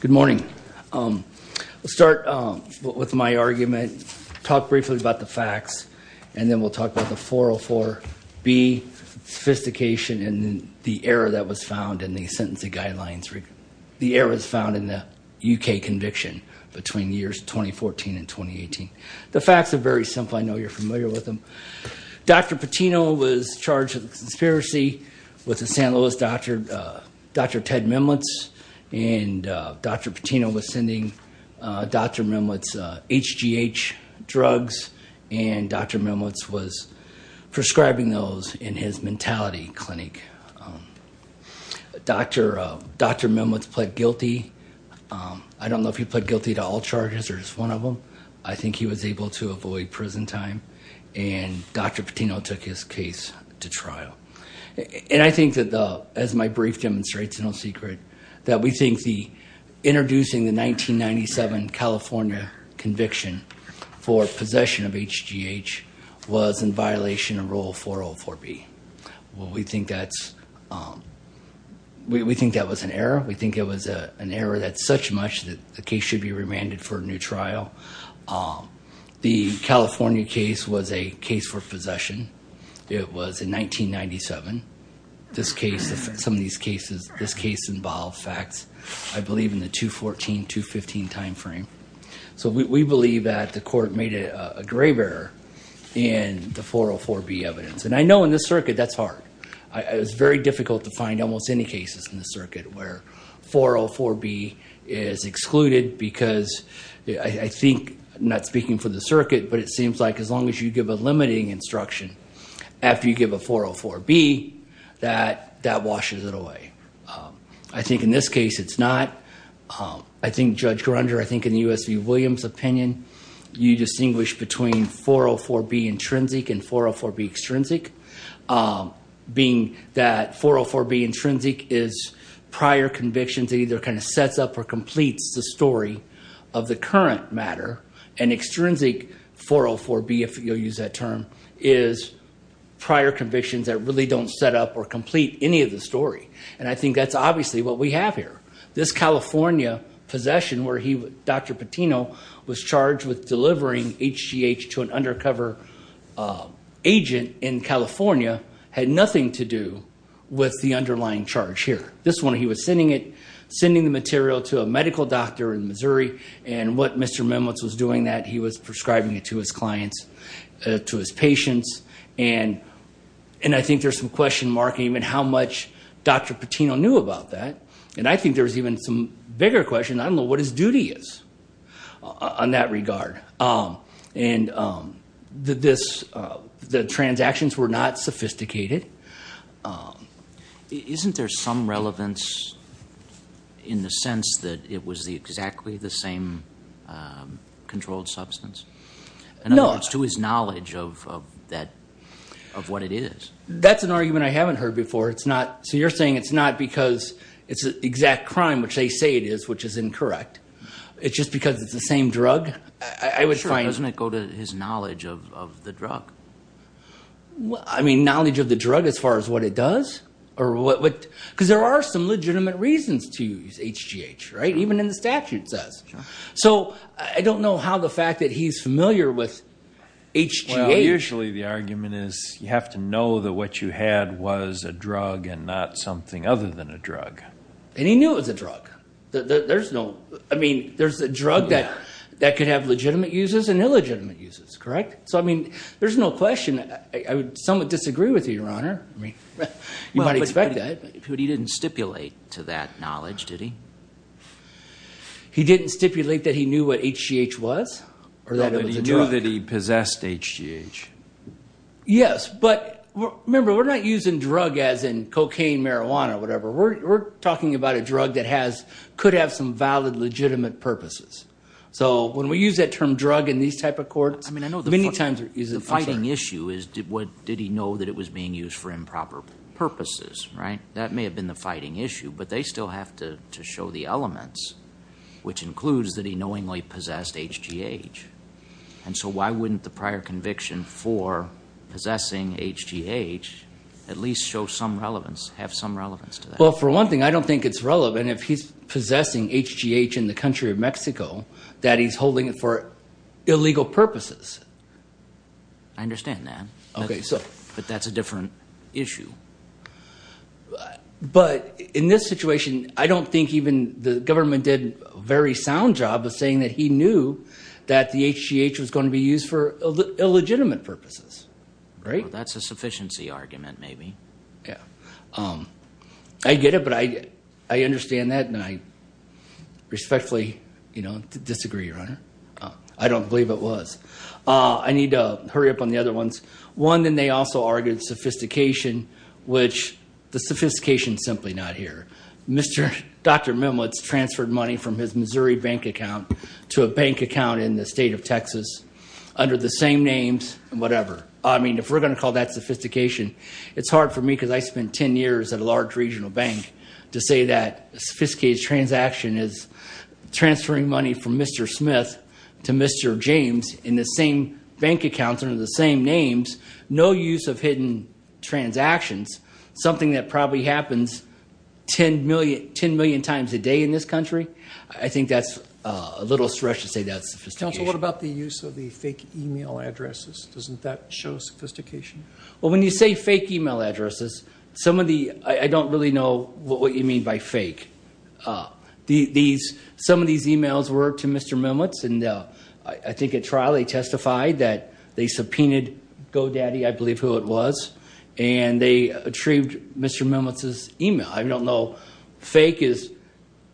Good morning, let's start with my argument, talk briefly about the facts, and then we'll talk about the 404B sophistication and the error that was found in the sentencing guidelines, the errors found in the UK conviction between years 2014 and 2018. The facts are very simple. I know you're familiar with them. Dr. Patino was charged with a conspiracy with the San Luis doctor, Dr. Ted Memlitz, and Dr. Patino was sending Dr. Memlitz HGH drugs, and Dr. Memlitz was prescribing those in his mentality clinic. Dr. Memlitz pled guilty. I don't know if he pled guilty to all charges or just one of them. I think he was able to avoid prison time, and Dr. Patino took his case to trial. And I think that, as my brief demonstrates, no secret, that we think the introducing the 1997 California conviction for possession of HGH was in violation of Rule 404B. Well, we think that was an error. We think it was an error that's such much that the case should be remanded for a new trial. The California case was a case for possession. It was in 1997. This case, some of these cases, this case involved facts, I believe, in the 2014-2015 timeframe. So we believe that the court made a grave error in the 404B evidence, and I know in this circuit that's hard. It's very difficult to find almost any cases in the circuit where 404B is excluded because I think, not speaking for the circuit, but it seems like as long as you give a limiting instruction after you give a 404B, that washes it away. I think in this case, it's not. I think Judge Grunder, I think in U.S. v. Williams' opinion, you distinguish between 404B intrinsic and 404B extrinsic, being that 404B intrinsic is prior convictions that either kind of sets up or completes the story of the current matter, and extrinsic 404B, if you'll use that term, is prior convictions that really don't set up or complete any of the story. And I think that's obviously what we have here. This California possession where he, Dr. Patino, was charged with delivering HGH to an undercover agent in California had nothing to do with the underlying charge here. This one, he was sending it, sending the material to a medical doctor in Missouri, and what Mr. Mimlitz was doing, that he was prescribing it to his clients, to his patients. And I think there's some question mark even how much Dr. Patino knew about that. And I think there's even some bigger question, I don't know what his duty is on that regard. And the transactions were not sophisticated. Isn't there some relevance in the sense that it was exactly the same controlled substance? In other words, to his knowledge of what it is. That's an argument I haven't heard before. So you're saying it's not because it's an exact crime, which they say it is, which is incorrect. It's just because it's the same drug? Sure, doesn't it go to his knowledge of the drug? I mean, knowledge of the drug as far as what it does? Because there are some legitimate reasons to use HGH, right? Even in the statute it says. So I don't know how the fact that he's familiar with HGH... Well, usually the argument is you have to know that what you had was a drug and not something other than a drug. And he knew it was a drug. There's no... I mean, there's a drug that could have legitimate uses and illegitimate uses, correct? So, I mean, there's no question. I would somewhat disagree with you, Your Honor. You might expect that. But he didn't stipulate to that knowledge, did he? He didn't stipulate that he knew what HGH was or that it was a drug. No, but he knew that he possessed HGH. Yes, but remember, we're not using drug as in cocaine, marijuana, whatever. We're talking about a drug that could have some valid, legitimate purposes. So when we use that term drug in these type of courts, many times we're using it for sure. I mean, I know the fighting issue is did he know that it was being used for improper purposes, right? That may have been the fighting issue, but they still have to show the elements, which includes that he knowingly possessed HGH. And so why wouldn't the prior conviction for possessing HGH at least show some relevance, have some relevance to that? Well, for one thing, I don't think it's relevant if he's possessing HGH in the country of Mexico that he's holding it for illegal purposes. I understand that, but that's a different issue. But in this situation, I don't think even the government did a very sound job of saying that he knew that the HGH was going to be used for illegitimate purposes, right? Well, that's a sufficiency argument maybe. Yeah, I get it, but I understand that, and I respectfully disagree, Your Honor. I don't believe it was. I need to hurry up on the other ones. One, then they also argued sophistication, which the sophistication is simply not here. Dr. Mimlitz transferred money from his Missouri bank account to a bank account in the state of Texas under the same names and whatever. I mean, if we're going to call that sophistication, it's hard for me because I spent 10 years at a large regional bank to say that a sophisticated transaction is transferring money from Mr. Smith to Mr. James in the same bank account under the same names, no use of hidden transactions, something that probably happens 10 million times a day in this country. I think that's a little stretch to say that's sophistication. Counsel, what about the use of the fake e-mail addresses? Doesn't that show sophistication? Well, when you say fake e-mail addresses, I don't really know what you mean by fake. Some of these e-mails were to Mr. Mimlitz, and I think at trial they testified that they subpoenaed GoDaddy, I believe who it was, and they retrieved Mr. Mimlitz's e-mail. I don't know. Fake is,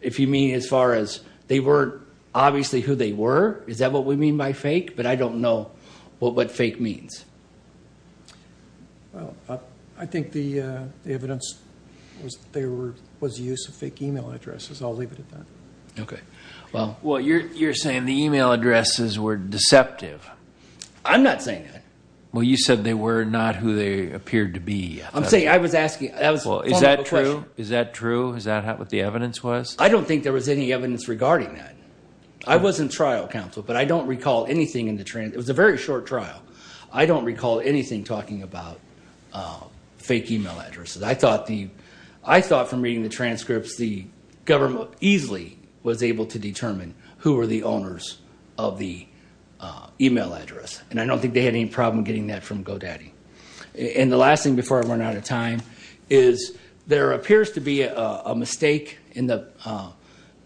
if you mean as far as they weren't obviously who they were, is that what we mean by fake? But I don't know what fake means. Well, I think the evidence was that there was use of fake e-mail addresses. I'll leave it at that. Okay. Well, you're saying the e-mail addresses were deceptive. I'm not saying that. Well, you said they were not who they appeared to be. I'm saying I was asking a fundamental question. Well, is that true? Is that true? Is that what the evidence was? I don't think there was any evidence regarding that. I was in trial, counsel, but I don't recall anything in the transcript. It was a very short trial. I don't recall anything talking about fake e-mail addresses. I thought from reading the transcripts the government easily was able to determine who were the owners of the e-mail address. And I don't think they had any problem getting that from GoDaddy. And the last thing before I run out of time is there appears to be a mistake in the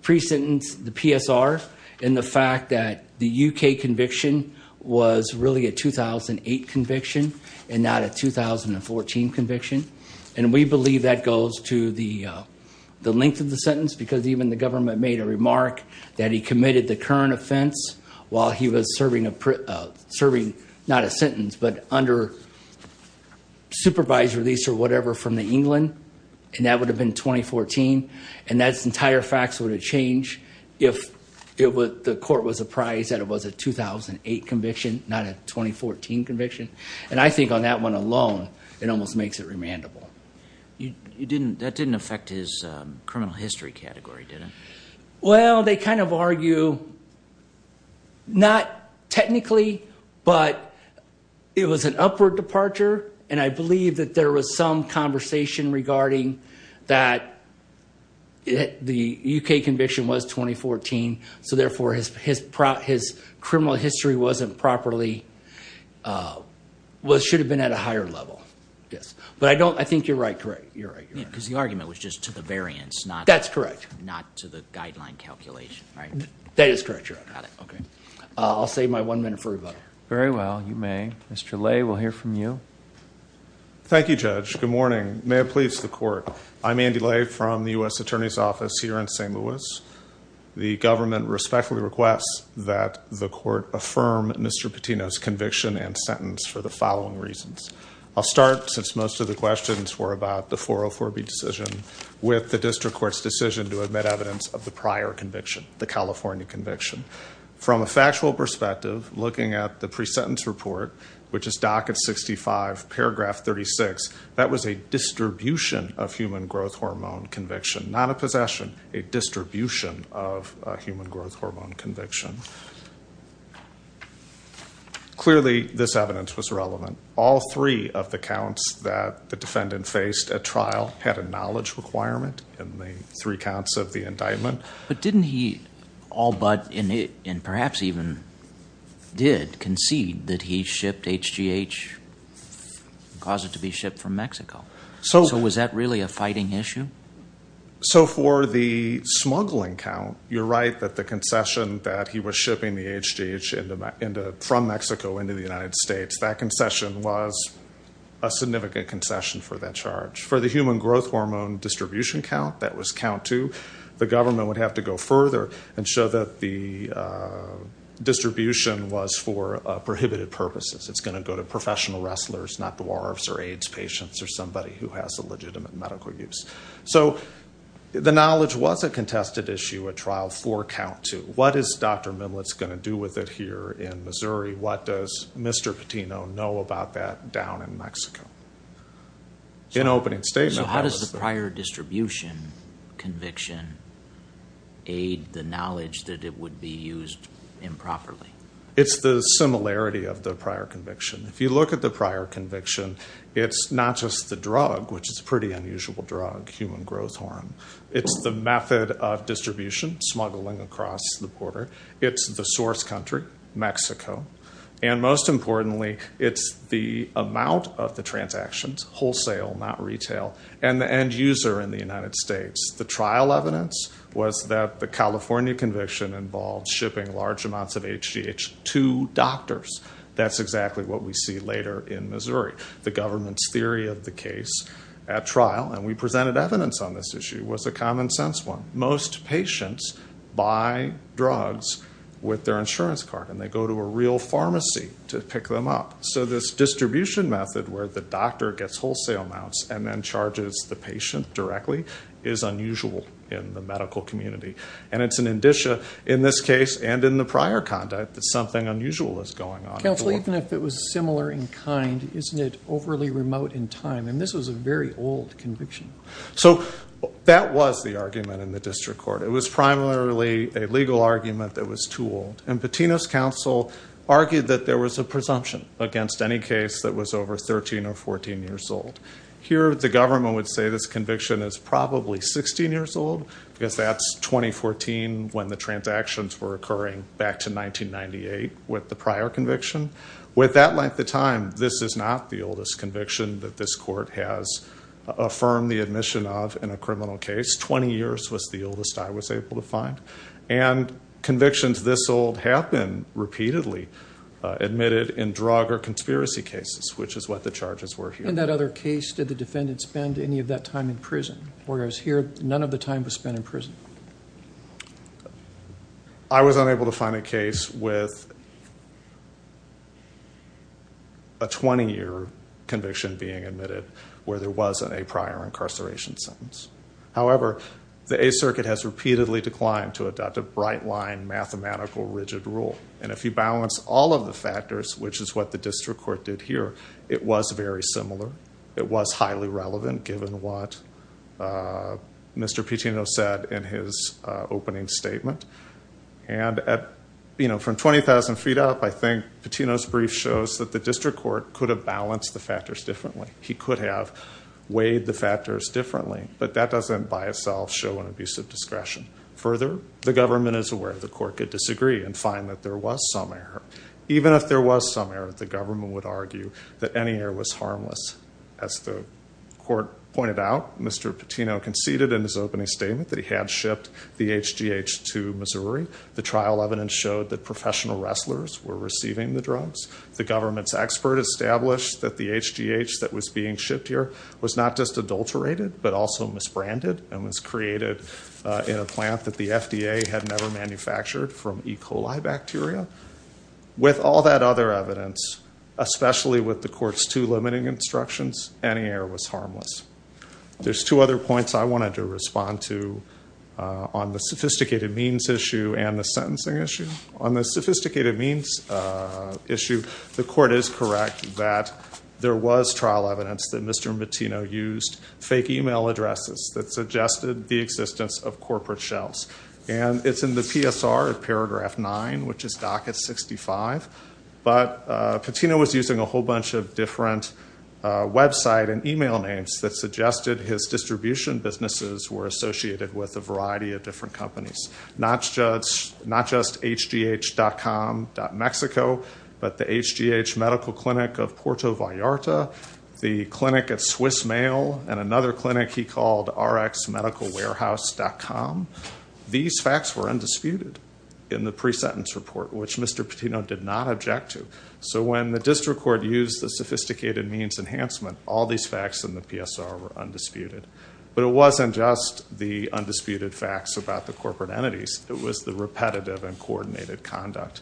pre-sentence, the PSR, in the fact that the U.K. conviction was really a 2008 conviction and not a 2014 conviction. And we believe that goes to the length of the sentence because even the government made a remark that he committed the current offense while he was serving not a sentence but under supervised release or whatever from the England, and that would have been 2014. And that entire fact would have changed if the court was apprised that it was a 2008 conviction, not a 2014 conviction. And I think on that one alone, it almost makes it remandable. That didn't affect his criminal history category, did it? Well, they kind of argue not technically, but it was an upward departure, and I believe that there was some conversation regarding that the U.K. conviction was 2014, so therefore his criminal history wasn't properly – should have been at a higher level. But I don't – I think you're right. Because the argument was just to the variance, not to the guideline calculation, right? That's correct. That is correct, Your Honor. Got it. Okay. I'll save my one minute for rebuttal. Very well. You may. Mr. Lay, we'll hear from you. Thank you, Judge. Good morning. May it please the Court. I'm Andy Lay from the U.S. Attorney's Office here in St. Louis. The government respectfully requests that the Court affirm Mr. Patino's conviction and sentence for the following reasons. I'll start, since most of the questions were about the 404B decision, with the district court's decision to admit evidence of the prior conviction, the California conviction. From a factual perspective, looking at the pre-sentence report, which is docket 65, paragraph 36, that was a distribution of human growth hormone conviction, not a possession, a distribution of human growth hormone conviction. Clearly, this evidence was relevant. All three of the counts that the defendant faced at trial had a knowledge requirement in the three counts of the indictment. But didn't he all but, and perhaps even did, concede that he shipped HGH and caused it to be shipped from Mexico? So was that really a fighting issue? So for the smuggling count, you're right that the concession that he was shipping the HGH from Mexico into the United States, that concession was a significant concession for that charge. For the human growth hormone distribution count, that was count two. The government would have to go further and show that the distribution was for prohibited purposes. It's going to go to professional wrestlers, not dwarves or AIDS patients or somebody who has a legitimate medical use. So the knowledge was a contested issue at trial for count two. What is Dr. Mimlitz going to do with it here in Missouri? What does Mr. Patino know about that down in Mexico? In opening statement, that was the- So how does the prior distribution conviction aid the knowledge that it would be used improperly? It's the similarity of the prior conviction. If you look at the prior conviction, it's not just the drug, which is a pretty unusual drug, human growth hormone. It's the method of distribution, smuggling across the border. It's the source country, Mexico. And most importantly, it's the amount of the transactions, wholesale, not retail, and the end user in the United States. The trial evidence was that the California conviction involved shipping large amounts of HGH to doctors. That's exactly what we see later in Missouri. The government's theory of the case at trial, and we presented evidence on this issue, was a common sense one. Most patients buy drugs with their insurance card, and they go to a real pharmacy to pick them up. So this distribution method where the doctor gets wholesale amounts and then charges the patient directly is unusual in the medical community. And it's an indicia in this case and in the prior conduct that something unusual is going on. Counsel, even if it was similar in kind, isn't it overly remote in time? And this was a very old conviction. So that was the argument in the district court. It was primarily a legal argument that was too old. And Patino's counsel argued that there was a presumption against any case that was over 13 or 14 years old. Here, the government would say this conviction is probably 16 years old, because that's 2014 when the transactions were occurring back to 1998 with the prior conviction. With that length of time, this is not the oldest conviction that this court has affirmed the admission of in a criminal case. Twenty years was the oldest I was able to find. And convictions this old have been repeatedly admitted in drug or conspiracy cases, which is what the charges were here. In that other case, did the defendant spend any of that time in prison? Whereas here, none of the time was spent in prison. I was unable to find a case with a 20-year conviction being admitted where there wasn't a prior incarceration sentence. However, the Eighth Circuit has repeatedly declined to adopt a bright line mathematical rigid rule. And if you balance all of the factors, which is what the district court did here, it was very similar. It was highly relevant, given what Mr. Pitino said in his opening statement. And from 20,000 feet up, I think Pitino's brief shows that the district court could have balanced the factors differently. He could have weighed the factors differently, but that doesn't by itself show an abuse of discretion. Further, the government is aware the court could disagree and find that there was some error. As the court pointed out, Mr. Pitino conceded in his opening statement that he had shipped the HGH to Missouri. The trial evidence showed that professional wrestlers were receiving the drugs. The government's expert established that the HGH that was being shipped here was not just adulterated, but also misbranded. And was created in a plant that the FDA had never manufactured from E. coli bacteria. With all that other evidence, especially with the court's two limiting instructions, any error was harmless. There's two other points I wanted to respond to on the sophisticated means issue and the sentencing issue. On the sophisticated means issue, the court is correct that there was trial evidence that Mr. Pitino used fake email addresses that suggested the existence of corporate shells. And it's in the PSR of paragraph nine, which is docket 65. But Pitino was using a whole bunch of different website and email names that suggested his distribution businesses were associated with a variety of different companies. Not just HGH.com.Mexico, but the HGH Medical Clinic of Porto Vallarta, the clinic at Swiss Mail, and another clinic he called RXMedicalWarehouse.com. These facts were undisputed in the pre-sentence report, which Mr. Pitino did not object to. So when the district court used the sophisticated means enhancement, all these facts in the PSR were undisputed. But it wasn't just the undisputed facts about the corporate entities. It was the repetitive and coordinated conduct.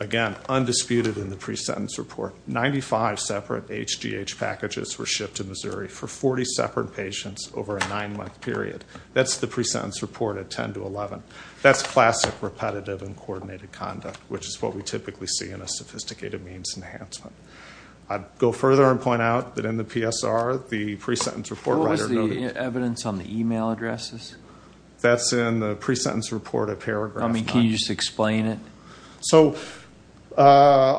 Again, undisputed in the pre-sentence report. 95 separate HGH packages were shipped to Missouri for 40 separate patients over a nine-month period. That's the pre-sentence report at 10 to 11. That's classic repetitive and coordinated conduct, which is what we typically see in a sophisticated means enhancement. I'd go further and point out that in the PSR, the pre-sentence report writer noted... What was the evidence on the email addresses? That's in the pre-sentence report at paragraph nine. I mean, can you just explain it? So a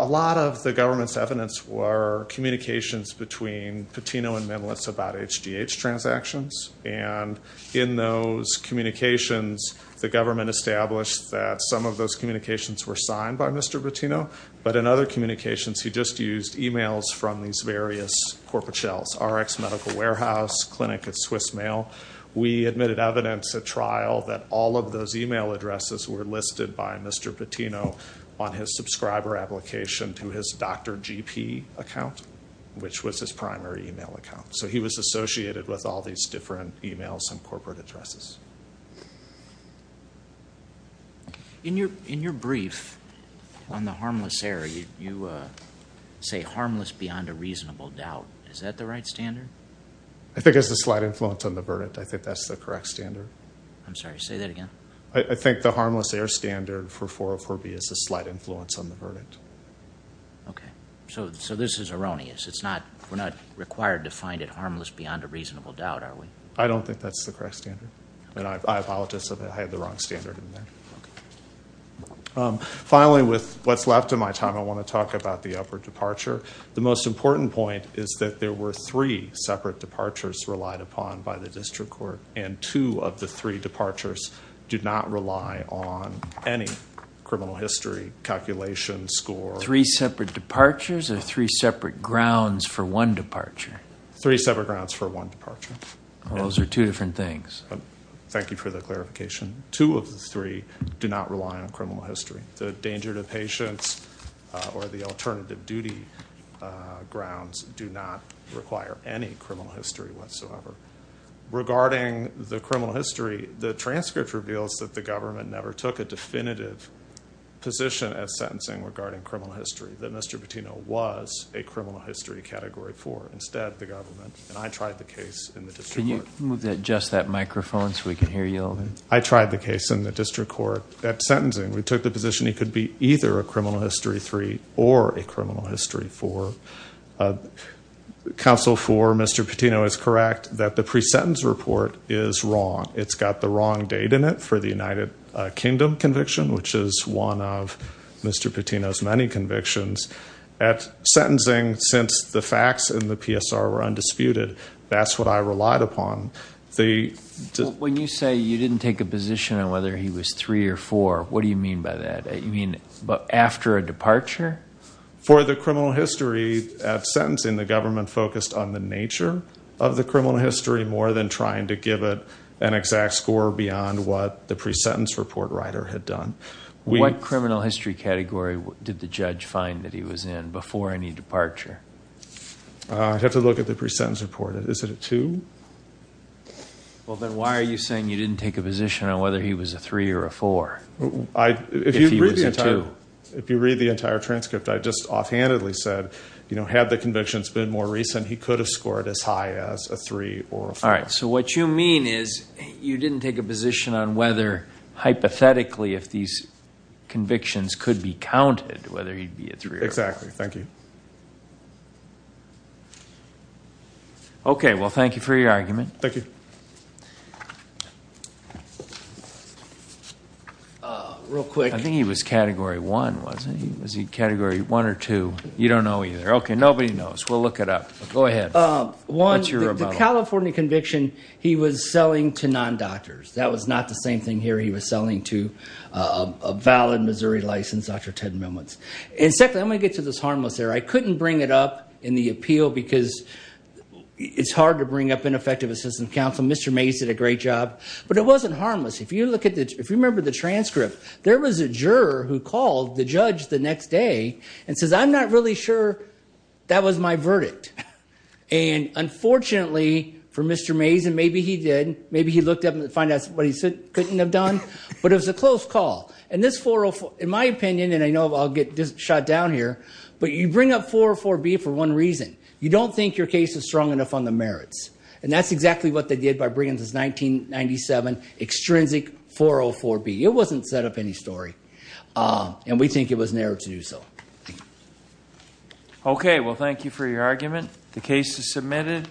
lot of the government's evidence were communications between Pitino and Mimlitz about HGH transactions. And in those communications, the government established that some of those communications were signed by Mr. Pitino. But in other communications, he just used emails from these various corporate shells. RX Medical Warehouse, Clinic at Swiss Mail. We admitted evidence at trial that all of those email addresses were listed by Mr. Pitino on his subscriber application to his Dr. GP account, which was his primary email account. So he was associated with all these different emails and corporate addresses. In your brief on the harmless area, you say harmless beyond a reasonable doubt. Is that the right standard? I think it's a slight influence on the verdict. I think that's the correct standard. I'm sorry, say that again. I think the harmless air standard for 404B is a slight influence on the verdict. Okay. So this is erroneous. We're not required to find it harmless beyond a reasonable doubt, are we? I don't think that's the correct standard. And I apologize that I had the wrong standard in there. Okay. Finally, with what's left of my time, I want to talk about the upward departure. The most important point is that there were three separate departures relied upon by the district court, and two of the three departures did not rely on any criminal history, calculation, score. Three separate departures or three separate grounds for one departure? Three separate grounds for one departure. Those are two different things. Thank you for the clarification. Two of the three do not rely on criminal history. The danger to patients or the alternative duty grounds do not require any criminal history whatsoever. Regarding the criminal history, the transcript reveals that the government never took a definitive position at sentencing regarding criminal history, that Mr. Patino was a criminal history category four. Instead, the government, and I tried the case in the district court. Can you move just that microphone so we can hear you? I tried the case in the district court at sentencing. We took the position he could be either a criminal history three or a criminal history four. Counsel for Mr. Patino is correct that the pre-sentence report is wrong. It's got the wrong date in it for the United Kingdom conviction, which is one of Mr. Patino's many convictions. At sentencing, since the facts in the PSR were undisputed, that's what I relied upon. When you say you didn't take a position on whether he was three or four, what do you mean by that? You mean after a departure? For the criminal history at sentencing, the government focused on the nature of the criminal history more than trying to give it an exact score beyond what the pre-sentence report writer had done. What criminal history category did the judge find that he was in before any departure? I'd have to look at the pre-sentence report. Is it a two? Then why are you saying you didn't take a position on whether he was a three or a four if he was a two? If you read the entire transcript, I just offhandedly said, had the convictions been more recent, he could have scored as high as a three or a four. All right, so what you mean is you didn't take a position on whether hypothetically, if these convictions could be counted, whether he'd be a three or a four. Exactly. Thank you. Okay, well, thank you for your argument. Thank you. Real quick. I think he was Category 1, wasn't he? Was he Category 1 or 2? You don't know either. Okay, nobody knows. We'll look it up. Go ahead. What's your rebuttal? One, the California conviction, he was selling to non-doctors. That was not the same thing here. He was selling to a valid Missouri license, Dr. Ted Millman. Secondly, I'm going to get to this harmless there. I couldn't bring it up in the appeal because it's hard to bring up ineffective assistance counsel. Mr. Mays did a great job. But it wasn't harmless. If you remember the transcript, there was a juror who called the judge the next day and says, I'm not really sure that was my verdict. And unfortunately for Mr. Mays, and maybe he did, maybe he looked up and found out what he couldn't have done, but it was a close call. And this 404, in my opinion, and I know I'll get shot down here, but you bring up 404B for one reason. You don't think your case is strong enough on the merits. And that's exactly what they did by bringing this 1997 extrinsic 404B. It wasn't set up any story. And we think it was narrow to do so. Okay, well, thank you for your argument. The case is submitted,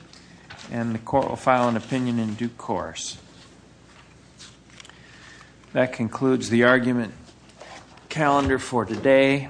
and the court will file an opinion in due course. That concludes the argument calendar for today.